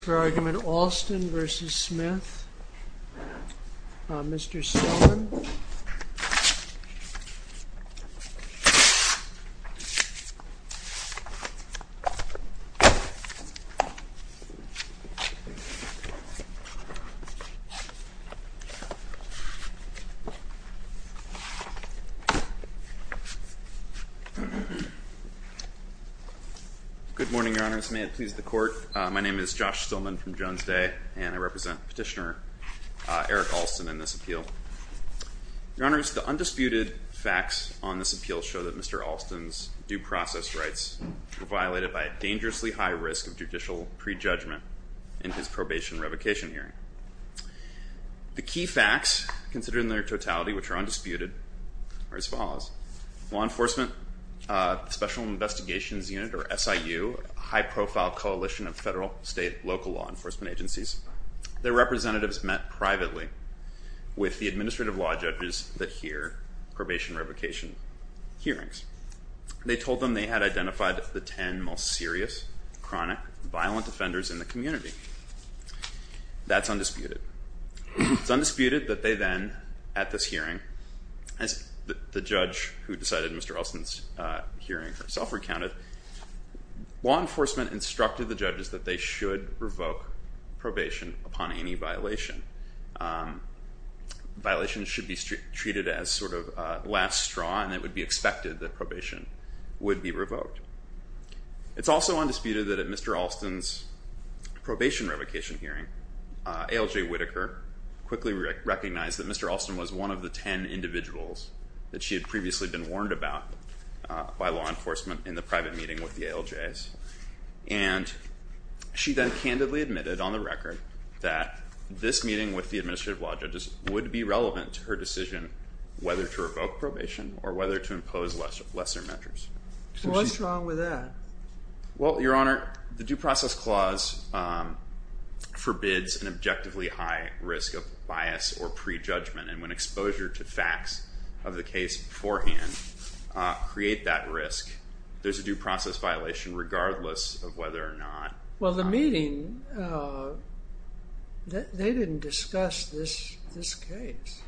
For argument Alston v. Smith, Mr. Sillman. Good morning, Your Honors. May it please the Court, my name is Josh Sillman from Jones Day, and I represent Petitioner Eric Alston in this appeal. Your Honors, the undisputed facts on this appeal show that Mr. Alston's due process rights were violated by a dangerously high risk of judicial prejudgment in his probation revocation hearing. The key facts, considered in their totality, which are undisputed, are as follows. Law enforcement, Special Investigations Unit, or SIU, a high profile coalition of federal, state, local law enforcement agencies. Their representatives met privately with the administrative law judges that hear probation revocation hearings. They told them they had identified the 10 most serious, chronic, violent offenders in the community. That's undisputed. It's undisputed that they then, at this hearing, as the judge who decided Mr. Alston's hearing herself recounted, law enforcement instructed the judges that they should revoke probation upon any violation. Violation should be treated as sort of last straw, and it would be expected that probation would be revoked. It's also undisputed that at Mr. Alston's probation revocation hearing, ALJ Whitaker quickly recognized that Mr. Alston was one of the 10 individuals that she had previously been warned about by law enforcement in the private meeting with the ALJs. And she then candidly admitted on the record that this meeting with the administrative law judges would be relevant to her decision whether to revoke probation or whether to impose lesser measures. So what's wrong with that? Well, Your Honor, the due process clause forbids an objectively high risk of bias or prejudgment. And when exposure to facts of the case beforehand create that risk, there's a due process violation regardless of whether or not. Well, the meeting, they didn't discuss this case.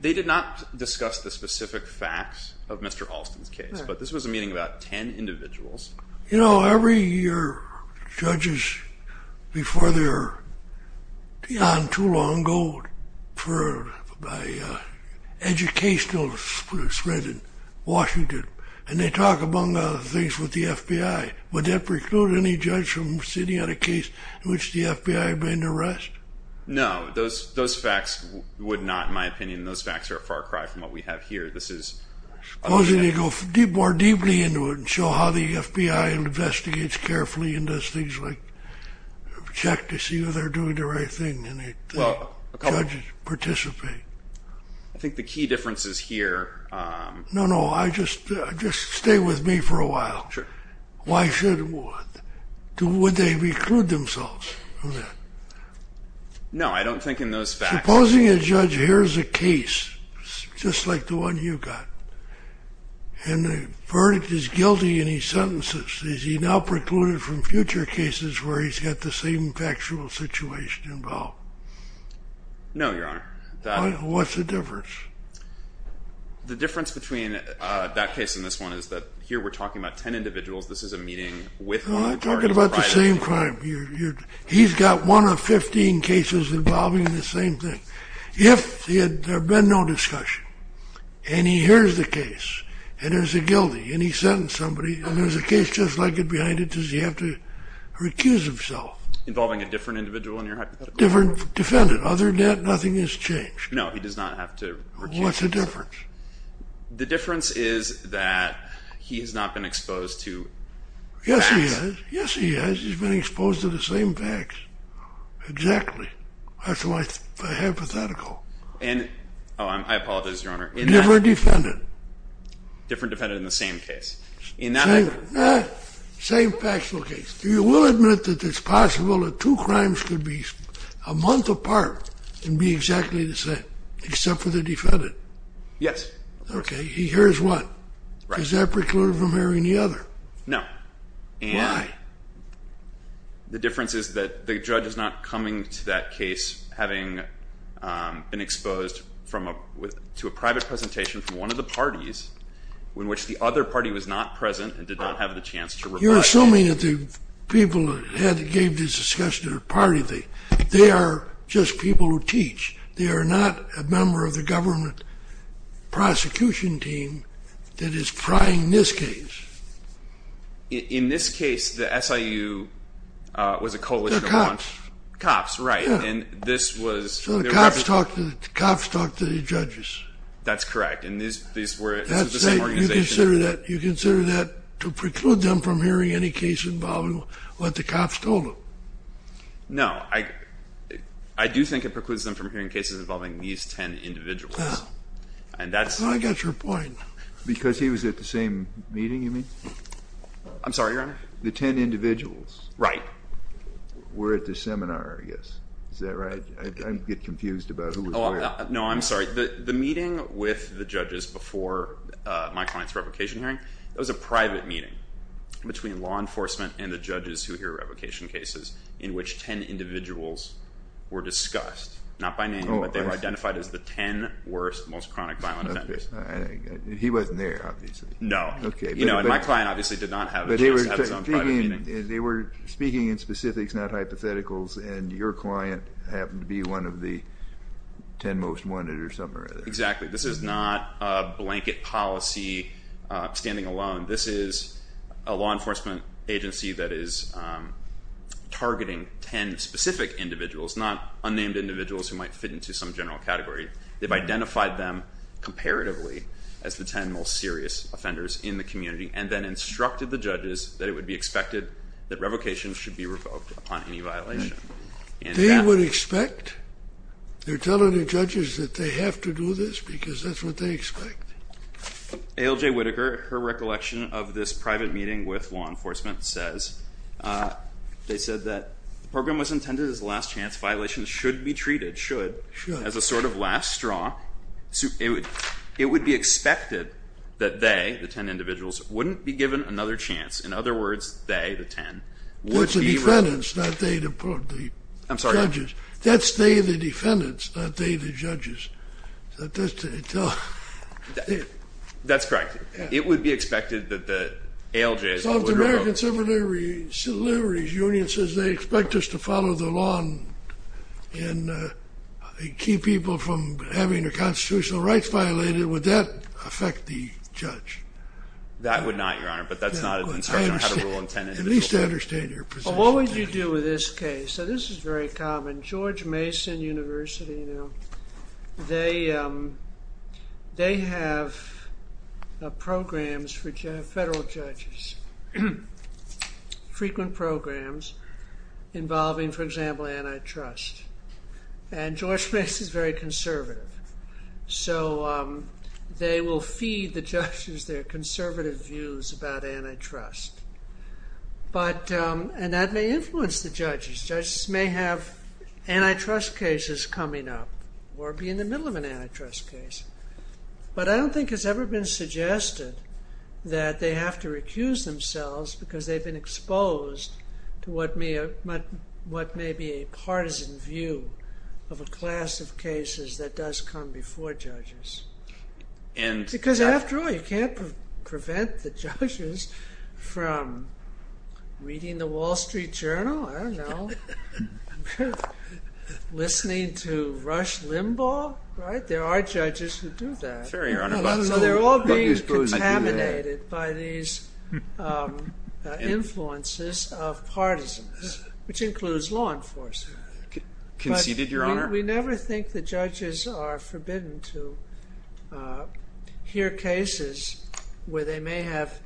They did not discuss the specific facts of Mr. Alston's case. But this was a meeting about 10 individuals. You know, every year, judges, before they're beyond too long, go for an educational spread in Washington. And they talk among other things with the FBI. Would that preclude any judge from sitting on a case in which the FBI had been under arrest? No, those facts would not, in my opinion. Those facts are a far cry from what we have here. Supposing they go more deeply into it and show how the FBI investigates carefully and does things like check to see whether they're doing the right thing and the judges participate. I think the key difference is here. No, no, just stay with me for a while. Why should, would they preclude themselves from that? No, I don't think in those facts. Supposing a judge hears a case, just like the one you got, and the verdict is guilty in his sentences. Is he now precluded from future cases where he's got the same factual situation involved? No, Your Honor. What's the difference? The difference between that case and this one is that here we're talking about 10 individuals. This is a meeting with one party. No, I'm talking about the same crime. He's got one of 15 cases involving the same thing. If there had been no discussion, and he hears the case, and there's a guilty, and he sentenced somebody, and there's a case just like it behind it, does he have to recuse himself? Involving a different individual in your hypothetical? Different defendant. Other than that, nothing has changed. No, he does not have to recuse himself. What's the difference? The difference is that he has not been exposed to facts. Yes, he has. Yes, he has. He's been exposed to the same facts. Exactly. That's why it's hypothetical. And, oh, I apologize, Your Honor. Different defendant. Different defendant in the same case. In that I agree. Same factual case. You will admit that it's possible that two crimes could be a month apart and be exactly the same, except for the defendant. Yes. OK, he hears one. Does that preclude him hearing the other? No. Why? The difference is that the judge is not coming to that case having been exposed to a private presentation from one of the parties in which the other party was not present and did not have the chance to reply. You're assuming that the people that gave this discussion are part of the thing. They are just people who teach. They are not a member of the government prosecution team that is trying this case. In this case, the SIU was a coalition of one. They're cops. Cops, right. And this was their representative. So the cops talked to the judges. That's correct. And these were the same organization. You consider that to preclude them from hearing any case involving what the cops told them? No, I do think it precludes them from hearing cases involving these 10 individuals. And that's. I got your point. Because he was at the same meeting, you mean? I'm sorry, Your Honor? The 10 individuals. Right. Were at the seminar, I guess. Is that right? I get confused about who was where. No, I'm sorry. The meeting with the judges before my client's private meeting between law enforcement and the judges who hear revocation cases, in which 10 individuals were discussed, not by name, but they were identified as the 10 worst, most chronic violent offenders. He wasn't there, obviously. No. OK. And my client obviously did not have a chance to have his own private meeting. But they were speaking in specifics, not hypotheticals. And your client happened to be one of the 10 most wanted or something or other. Exactly. This is not a blanket policy, standing alone. This is a law enforcement agency that is targeting 10 specific individuals, not unnamed individuals who might fit into some general category. They've identified them comparatively as the 10 most serious offenders in the community, and then instructed the judges that it would be expected that revocation should be revoked upon any violation. They would expect? They're telling the judges that they have to do this? Because that's what they expect. ALJ Whitaker, her recollection of this private meeting with law enforcement says, they said that the program was intended as a last chance. Violations should be treated, should, as a sort of last straw. It would be expected that they, the 10 individuals, wouldn't be given another chance. In other words, they, the 10, would be revoked. It's the defendants, not they, the judges. That's they, the defendants, not they, the judges. That's correct. It would be expected that the ALJs would revoke. So if the American Civil Liberties Union says they expect us to follow the law and keep people from having their constitutional rights violated, would that affect the judge? That would not, Your Honor. But that's not an instruction on how to rule on 10 individuals. At least I understand your position. Well, what would you do with this case? This is very common. George Mason University, they have programs for federal judges, frequent programs involving, for example, antitrust. And George Mason is very conservative. So they will feed the judges their conservative views And that may influence the judges. Judges may have antitrust cases coming up or be in the middle of an antitrust case. But I don't think it's ever been suggested that they have to recuse themselves because they've been exposed to what may be a partisan view of a class of cases that does come before judges. Because after all, you can't prevent the judges from reading the Wall Street Journal. I don't know. Listening to Rush Limbaugh, right? There are judges who do that. Fair, Your Honor. They're all being contaminated by these influences of partisans, which includes law enforcement. Conceded, Your Honor? We never think the judges are forbidden to hear cases where they may have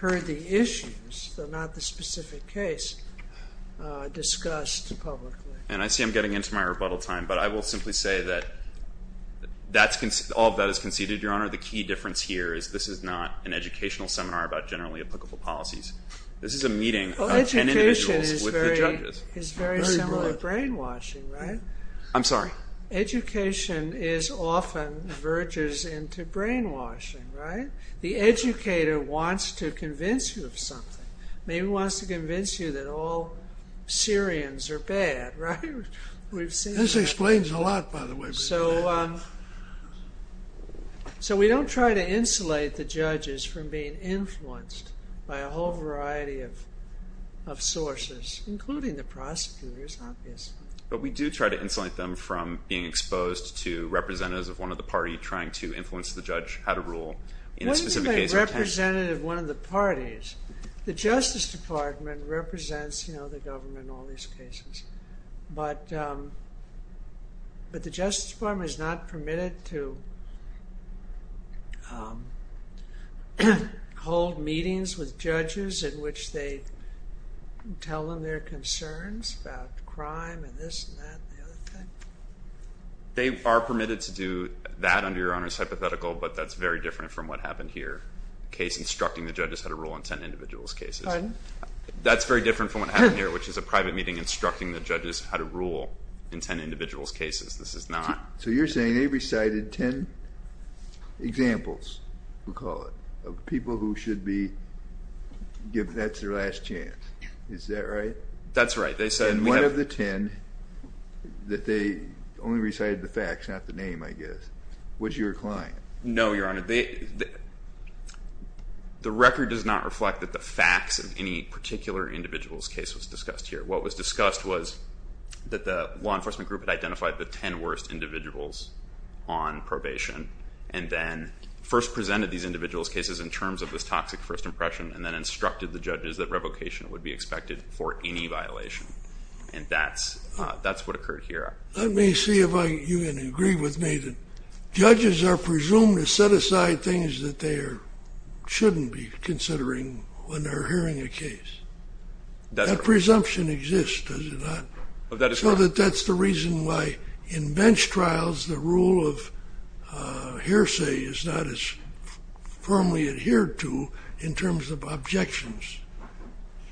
heard the issues, though not the specific case, discussed publicly. And I see I'm getting into my rebuttal time. But I will simply say that all of that is conceded, Your Honor. The key difference here is this is not an educational seminar about generally applicable policies. This is a meeting of 10 individuals with the judges. Education is very similar to brainwashing, right? I'm sorry? Education often verges into brainwashing, right? The educator wants to convince you of something. Maybe he wants to convince you that all Syrians are bad, right? We've seen it. This explains a lot, by the way. So we don't try to insulate the judges from being influenced by a whole variety of sources, including the prosecutors, obviously. But we do try to insulate them from being exposed to representatives of one of the parties trying to influence the judge how to rule in a specific case or a case. What do you mean by representative of one of the parties? The Justice Department represents the government in all these cases. But the Justice Department is not permitted to hold meetings with judges in which they tell them their concerns about crime and this and that and the other thing? They are permitted to do that under Your Honor's hypothetical, but that's very different from what happened here. Instructing the judges how to rule in 10 individuals' cases. Pardon? That's very different from what happened here, which is a private meeting instructing the judges how to rule in 10 individuals' cases. This is not. So you're saying they recited 10 examples, we'll call it, of people who should be given, that's their last chance. Is that right? That's right. They said one of the 10 that they only recited the facts, not the name, I guess. Was your client. No, Your Honor. The record does not reflect that the facts of any particular individual's case was discussed here. What was discussed was that the law enforcement group had identified the 10 worst individuals on probation and then first presented these individuals' cases in terms of this toxic first impression and then instructed the judges that revocation would be expected for any violation. And that's what occurred here. Let me see if you can agree with me that judges are presumed to set aside things that they shouldn't be considering when they're hearing a case. That presumption exists, does it not? So that that's the reason why in bench trials, the rule of hearsay is not as firmly adhered to in terms of objections.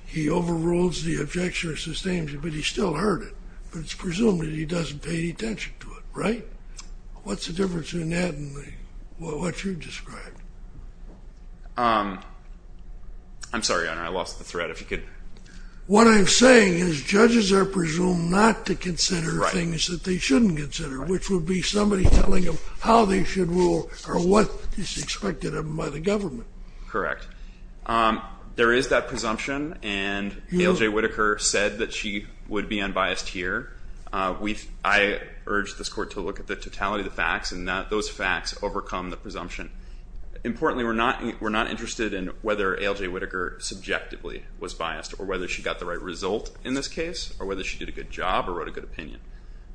He overrules the objection or sustains it, but he still heard it. But it's presumed that he doesn't pay attention to it, right? What's the difference in that and what you've described? I'm sorry, Your Honor, I lost the thread. What I'm saying is judges are presumed not to consider things that they shouldn't consider, which would be somebody telling them how they should rule or what is expected of them by the government. Correct. There is that presumption, and A.L.J. Whitaker said that she would be unbiased here. I urge this court to look at the totality of the facts, and those facts overcome the presumption. Importantly, we're not interested in whether A.L.J. Whitaker subjectively was biased or whether she got the right result in this case or whether she did a good job or wrote a good opinion.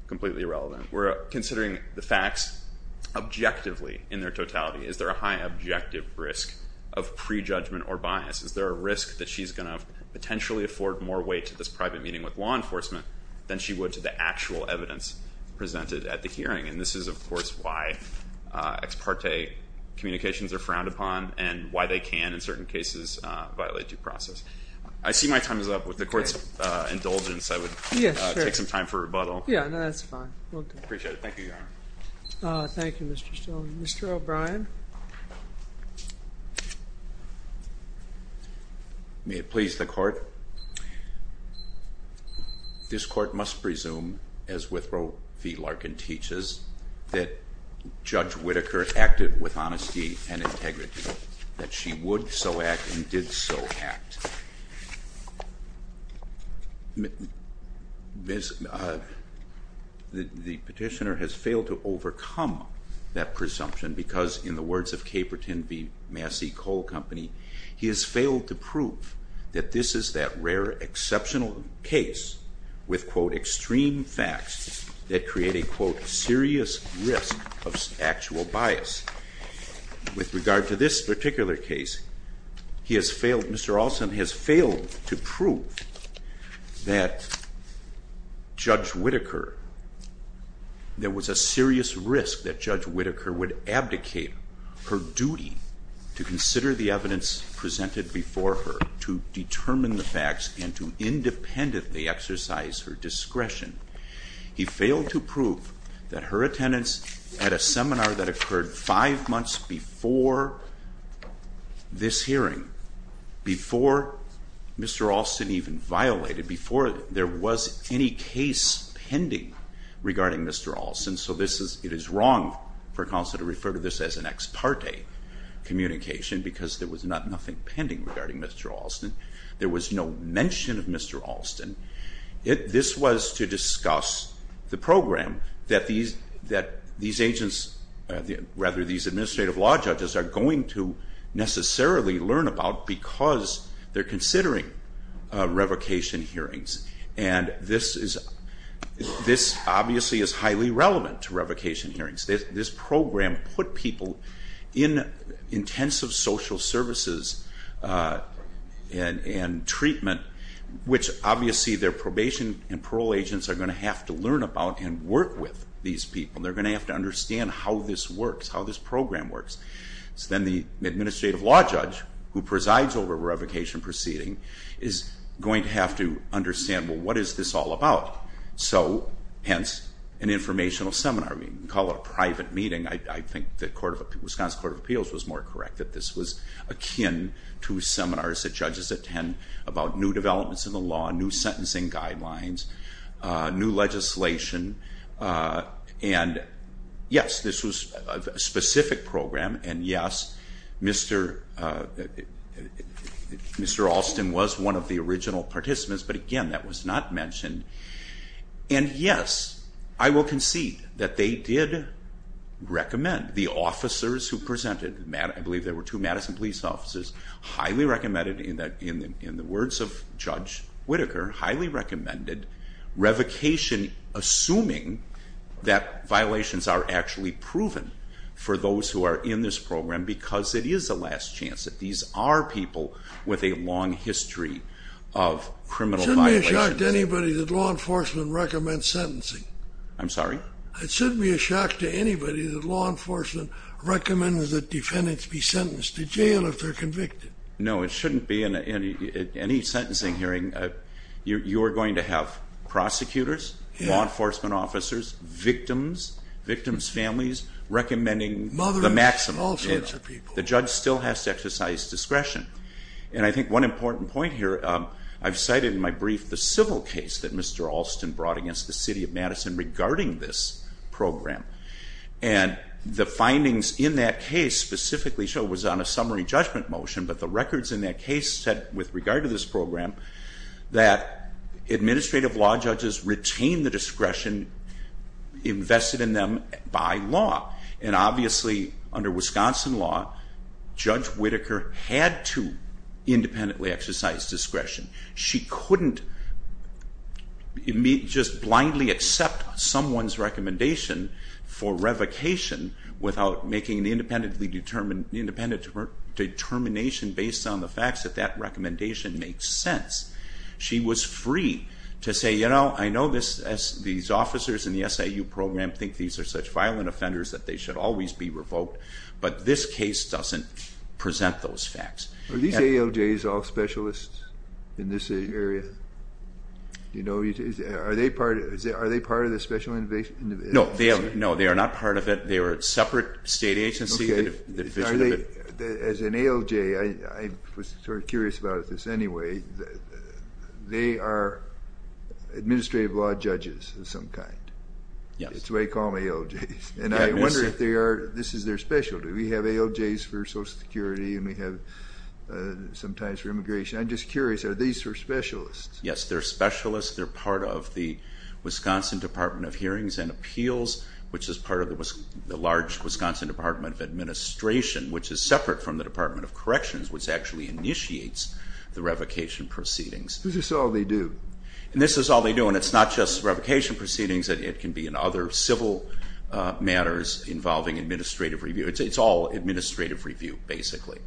Completely irrelevant. We're considering the facts objectively in their totality. Is there a high objective risk of prejudgment or bias? Is there a risk that she's going to potentially afford more weight to this private meeting with law enforcement than she would to the actual evidence presented at the hearing? And this is, of course, why ex parte communications are frowned upon and why they can, in certain cases, violate due process. I see my time is up. With the court's indulgence, I would take some time for rebuttal. Yeah, no, that's fine. We'll do that. I appreciate it. Thank you, Your Honor. Thank you, Mr. Stone. Mr. O'Brien. May it please the court. Thank you. This court must presume, as Withrow v. Larkin teaches, that Judge Whitaker acted with honesty and integrity, that she would so act and did so act. The petitioner has failed to overcome that presumption because, in the words of Caperton v. Massey Coal Company, he has failed to prove that this is that rare exceptional case with, quote, extreme facts that create a, quote, serious risk of actual bias. With regard to this particular case, Mr. Alston has failed to prove that Judge Whitaker, there was a serious risk that Judge Whitaker would abdicate her duty to consider the evidence presented before her, to determine the facts, and to independently exercise her discretion. He failed to prove that her attendance at a seminar that occurred five months before this hearing, before Mr. Alston even violated, before there was any case pending regarding Mr. Alston. So it is wrong for counsel to refer to this as an ex parte communication because there was nothing pending regarding Mr. Alston. There was no mention of Mr. Alston. This was to discuss the program that these agents, rather these administrative law judges, are going to necessarily learn about because they're considering revocation hearings. And this obviously is highly relevant to revocation hearings. This program put people in intensive social services and treatment, which obviously their probation and parole agents are going to have to learn about and work with these people. They're going to have to understand how this works, how this program works. So then the administrative law judge who presides over a revocation proceeding is going to have to understand, well, what is this all about? So hence, an informational seminar. Call it a private meeting. I think the Wisconsin Court of Appeals was more correct that this was akin to seminars that judges attend about new developments in the law, new sentencing guidelines, new legislation. And yes, this was a specific program. And yes, Mr. Alston was one of the original participants. But again, that was not mentioned. And yes, I will concede that they did recommend. The officers who presented, I believe there were two Madison police officers, highly recommended in the words of Judge Whitaker, highly recommended revocation assuming that violations are actually proven for those who are in this program because it is a last chance that these are people with a long history of criminal violations. To anybody that law enforcement recommends sentencing. I'm sorry? It shouldn't be a shock to anybody that law enforcement recommends that defendants be sentenced to jail if they're convicted. No, it shouldn't be in any sentencing hearing. You're going to have prosecutors, law enforcement officers, victims, victims' families, recommending the maximum. The judge still has to exercise discretion. And I think one important point here, I've cited in my brief the civil case that Mr. Alston brought against the city of Madison regarding this program. And the findings in that case specifically show it was on a summary judgment motion. But the records in that case said, with regard to this program, that administrative law judges retain the discretion invested in them by law. And obviously, under Wisconsin law, Judge Whitaker had to independently exercise discretion. She couldn't just blindly accept someone's recommendation for revocation without making an independent determination based on the facts that that recommendation makes sense. She was free to say, I know these officers in the SIU should always be revoked. But this case doesn't present those facts. Are these ALJs all specialists in this area? Are they part of the special innovation? No, they are not part of it. They are a separate state agency. As an ALJ, I was sort of curious about this anyway, they are administrative law judges of some kind. That's the way I call them, ALJs. And I wonder if this is their specialty. We have ALJs for Social Security, and we have sometimes for immigration. I'm just curious, are these specialists? Yes, they're specialists. They're part of the Wisconsin Department of Hearings and Appeals, which is part of the large Wisconsin Department of Administration, which is separate from the Department of Corrections, which actually initiates the revocation proceedings. Is this all they do? And this is all they do. And it's not just revocation proceedings. It can be in other civil matters involving administrative review. It's all administrative review, basically.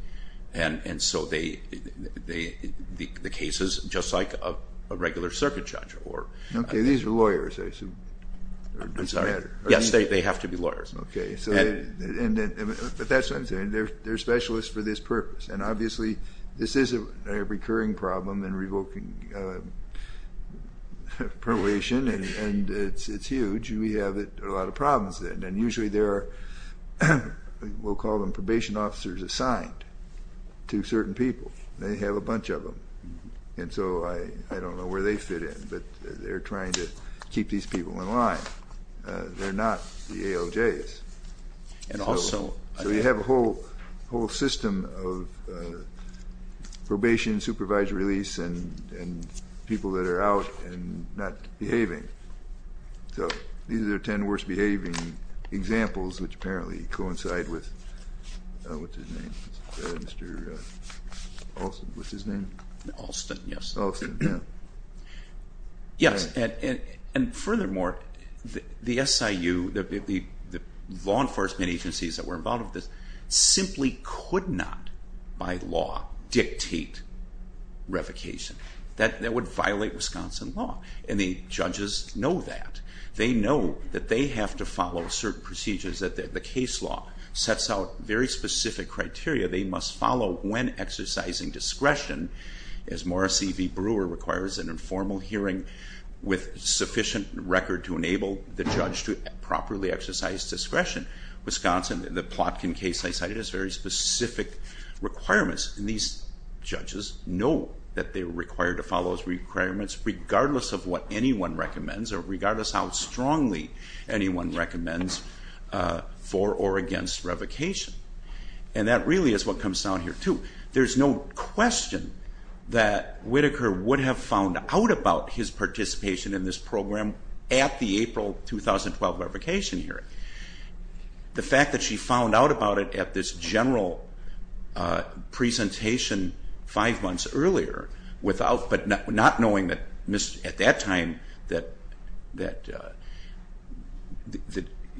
And so the case is just like a regular circuit judge. OK, these are lawyers, I assume. I'm sorry. Yes, they have to be lawyers. OK. But that's what I'm saying. They're specialists for this purpose. And obviously, this is a recurring problem in revoking probation. And it's huge. We have a lot of problems then. And usually, there are, we'll call them, probation officers assigned to certain people. They have a bunch of them. And so I don't know where they fit in. But they're trying to keep these people in line. They're not the ALJs. And also, I think. So you have a whole system of probation, supervised release, and people that are out and not behaving. So these are 10 worst behaving examples, which apparently coincide with, what's his name, Mr. Alston. What's his name? Alston, yes. Alston, yeah. Yes, and furthermore, the SIU, the law enforcement agencies that were involved with this, simply could not, by law, dictate revocation. That would violate Wisconsin law. And the judges know that. They know that they have to follow certain procedures, that the case law sets out very specific criteria they must follow when exercising discretion. As Morrissey v. Brewer requires an informal hearing with sufficient record to enable the judge to properly exercise discretion, Wisconsin, the Plotkin case I cited, has very specific requirements. And these judges know that they're required to follow those requirements, regardless of what anyone recommends, or regardless how strongly anyone recommends, for or against revocation. And that really is what comes down here, too. There's no question that Whitaker would have found out about his participation in this program at the April 2012 revocation hearing. The fact that she found out about it at this general presentation five months earlier, but not knowing at that time that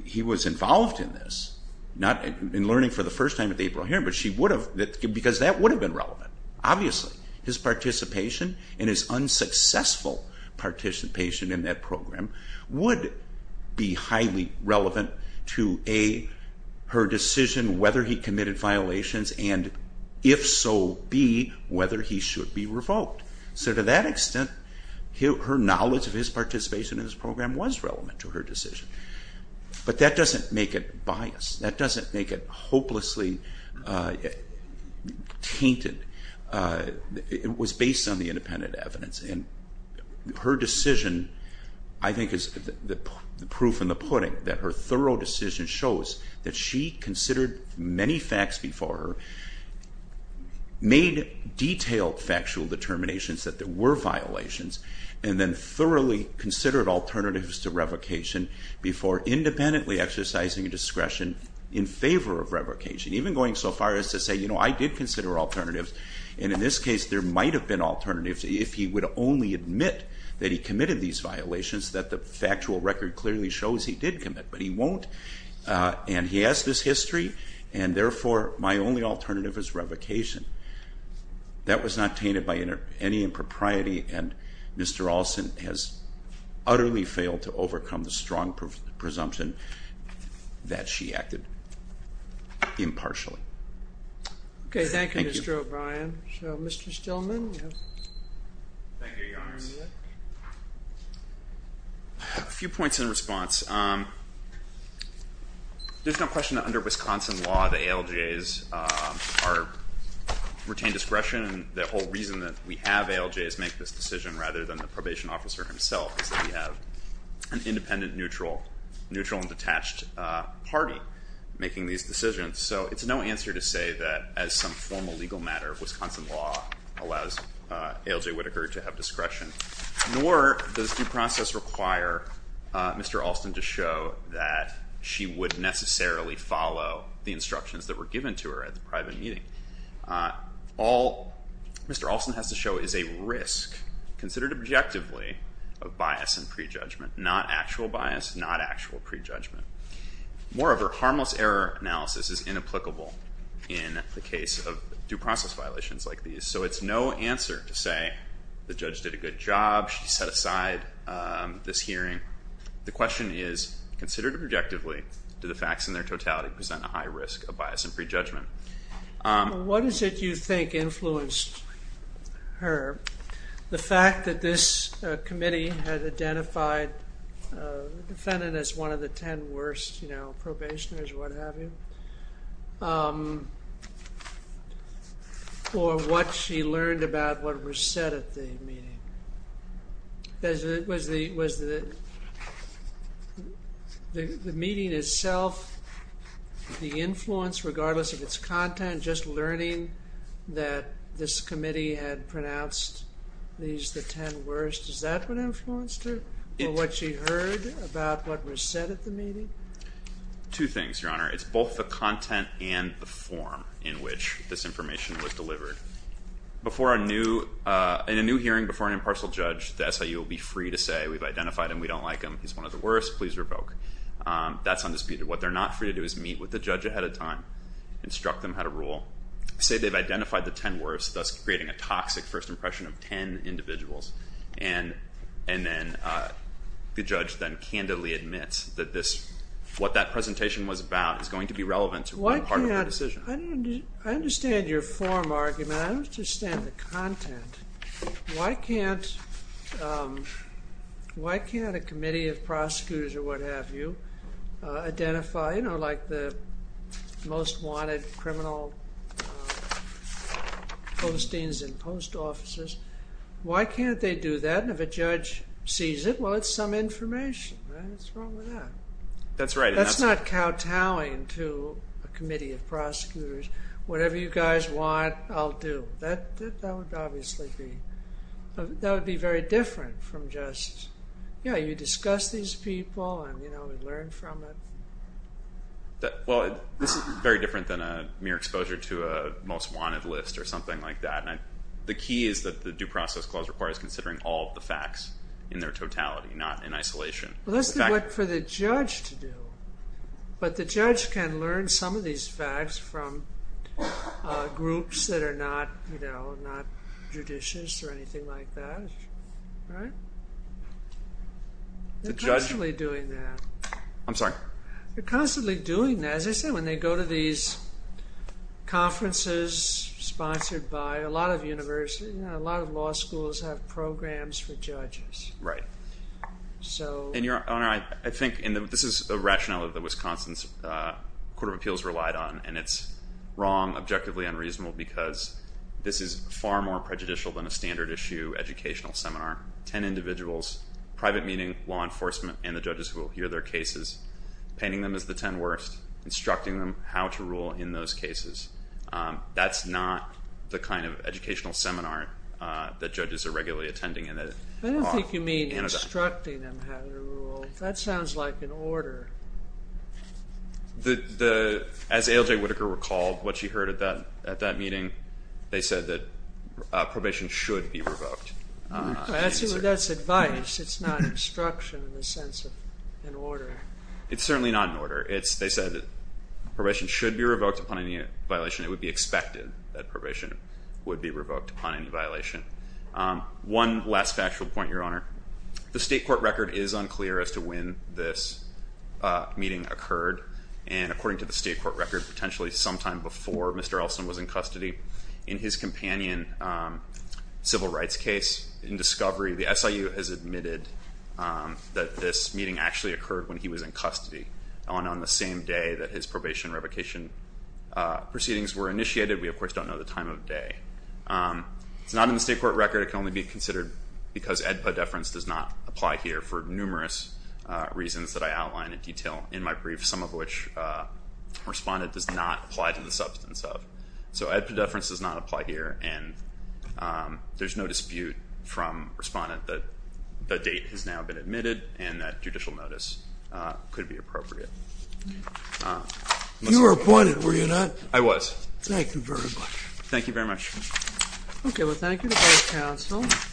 he was involved in this, in learning for the first time at the April hearing, but she would have, because that would have been relevant. Obviously, his participation and his unsuccessful participation in that program would be highly relevant to A, her decision whether he committed violations, and if so, B, whether he should be revoked. So to that extent, her knowledge of his participation in this program was relevant to her decision. But that doesn't make it biased. That doesn't make it hopelessly tainted. It was based on the independent evidence. And her decision, I think, is the proof in the pudding that her thorough decision shows that she considered many facts before her, made detailed factual determinations that there were violations, and then thoroughly considered alternatives to revocation before independently exercising a discretion in favor of revocation, even going so far as to say, you know, I did consider alternatives. And in this case, there might have been alternatives if he would only admit that he committed these violations, that the factual record clearly shows he did commit. But he won't. And he has this history. And therefore, my only alternative is revocation. That was not tainted by any impropriety. And Mr. Olson has utterly failed to overcome the strong presumption that she acted impartially. OK, thank you, Mr. O'Brien. So Mr. Stillman, you have the floor. Thank you, Your Honors. You may be seated. A few points in response. There's no question that under Wisconsin law, the ALJs retain discretion. And the whole reason that we have ALJs make this decision, rather than the probation officer himself, is that we have an independent, neutral, and detached party making these decisions. So it's no answer to say that, as some formal legal matter of Wisconsin law allows ALJ Whitaker to have discretion, nor does due process require Mr. Olson to show that she would necessarily follow the instructions that were given to her at the private meeting. All Mr. Olson has to show is a risk, considered objectively, of bias and prejudgment. Not actual bias, not actual prejudgment. Moreover, harmless error analysis is like these. So it's no answer to say the judge did a good job, she set aside this hearing. The question is, considered objectively, do the facts in their totality present a high risk of bias and prejudgment? What is it you think influenced her? The fact that this committee had identified the defendant as one of the 10 worst probationers, what have you? Or what she learned about what was said at the meeting? The meeting itself, the influence, regardless of its content, just learning that this committee had pronounced these the 10 worst, is that what influenced her? What she heard about what was said at the meeting? Two things, Your Honor. It's both the content and the form in which this information was delivered. Before a new, in a new hearing before an impartial judge, the SIU will be free to say, we've identified him, we don't like him, he's one of the worst, please revoke. That's undisputed. What they're not free to do is meet with the judge ahead of time, instruct them how to rule, say they've identified the 10 worst, thus creating a toxic first impression of 10 individuals. And then the judge then candidly admits that this, what that presentation was about is going to be relevant to what part of the decision. I understand your form argument. I understand the content. Why can't a committee of prosecutors or what have you identify, you know, like the most wanted criminal postings in post offices? Why can't they do that? And if a judge sees it, well, it's some information. What's wrong with that? That's right. I'm telling to a committee of prosecutors, whatever you guys want, I'll do. That would obviously be, that would be very different from just, yeah, you discuss these people and, you know, we learn from it. Well, this is very different than a mere exposure to a most wanted list or something like that. The key is that the due process clause requires considering all of the facts in their totality, not in isolation. Well, that's what for the judge to do. But the judge can learn some of these facts from groups that are not, you know, not judicious or anything like that, right? The judge. They're constantly doing that. I'm sorry? They're constantly doing that. As I said, when they go to these conferences sponsored by a lot of universities, a lot of law schools have programs for judges. Right. So. And your honor, I think, and this is a rationale that the Wisconsin Court of Appeals relied on. And it's wrong, objectively unreasonable, because this is far more prejudicial than a standard issue educational seminar. 10 individuals, private meeting, law enforcement, and the judges who will hear their cases. Painting them as the 10 worst, instructing them how to rule in those cases. That's not the kind of educational seminar that judges are regularly attending. I don't think you mean instructing them how to rule. That sounds like an order. As ALJ Whitaker recalled what she heard at that meeting, they said that probation should be revoked. That's advice. It's not instruction in the sense of an order. It's certainly not an order. They said probation should be revoked upon any violation. It would be expected that probation would be revoked upon any violation. One last factual point, your honor. The state court record is unclear as to when this meeting occurred. And according to the state court record, potentially sometime before Mr. Elson was in custody, in his companion civil rights case in discovery, the SIU has admitted that this meeting actually occurred when he was in custody on the same day that his probation revocation proceedings were initiated. We, of course, don't know the time of day. It's not in the state court record. It can only be considered because EDPA deference does not apply here for numerous reasons that I outline in detail in my brief, some of which respondent does not apply to the substance of. So EDPA deference does not apply here. And there's no dispute from respondent that the date has now been admitted and that judicial notice could be appropriate. You were appointed, were you not? I was. Thank you very much. Thank you very much. OK, well, thank you to both counsels.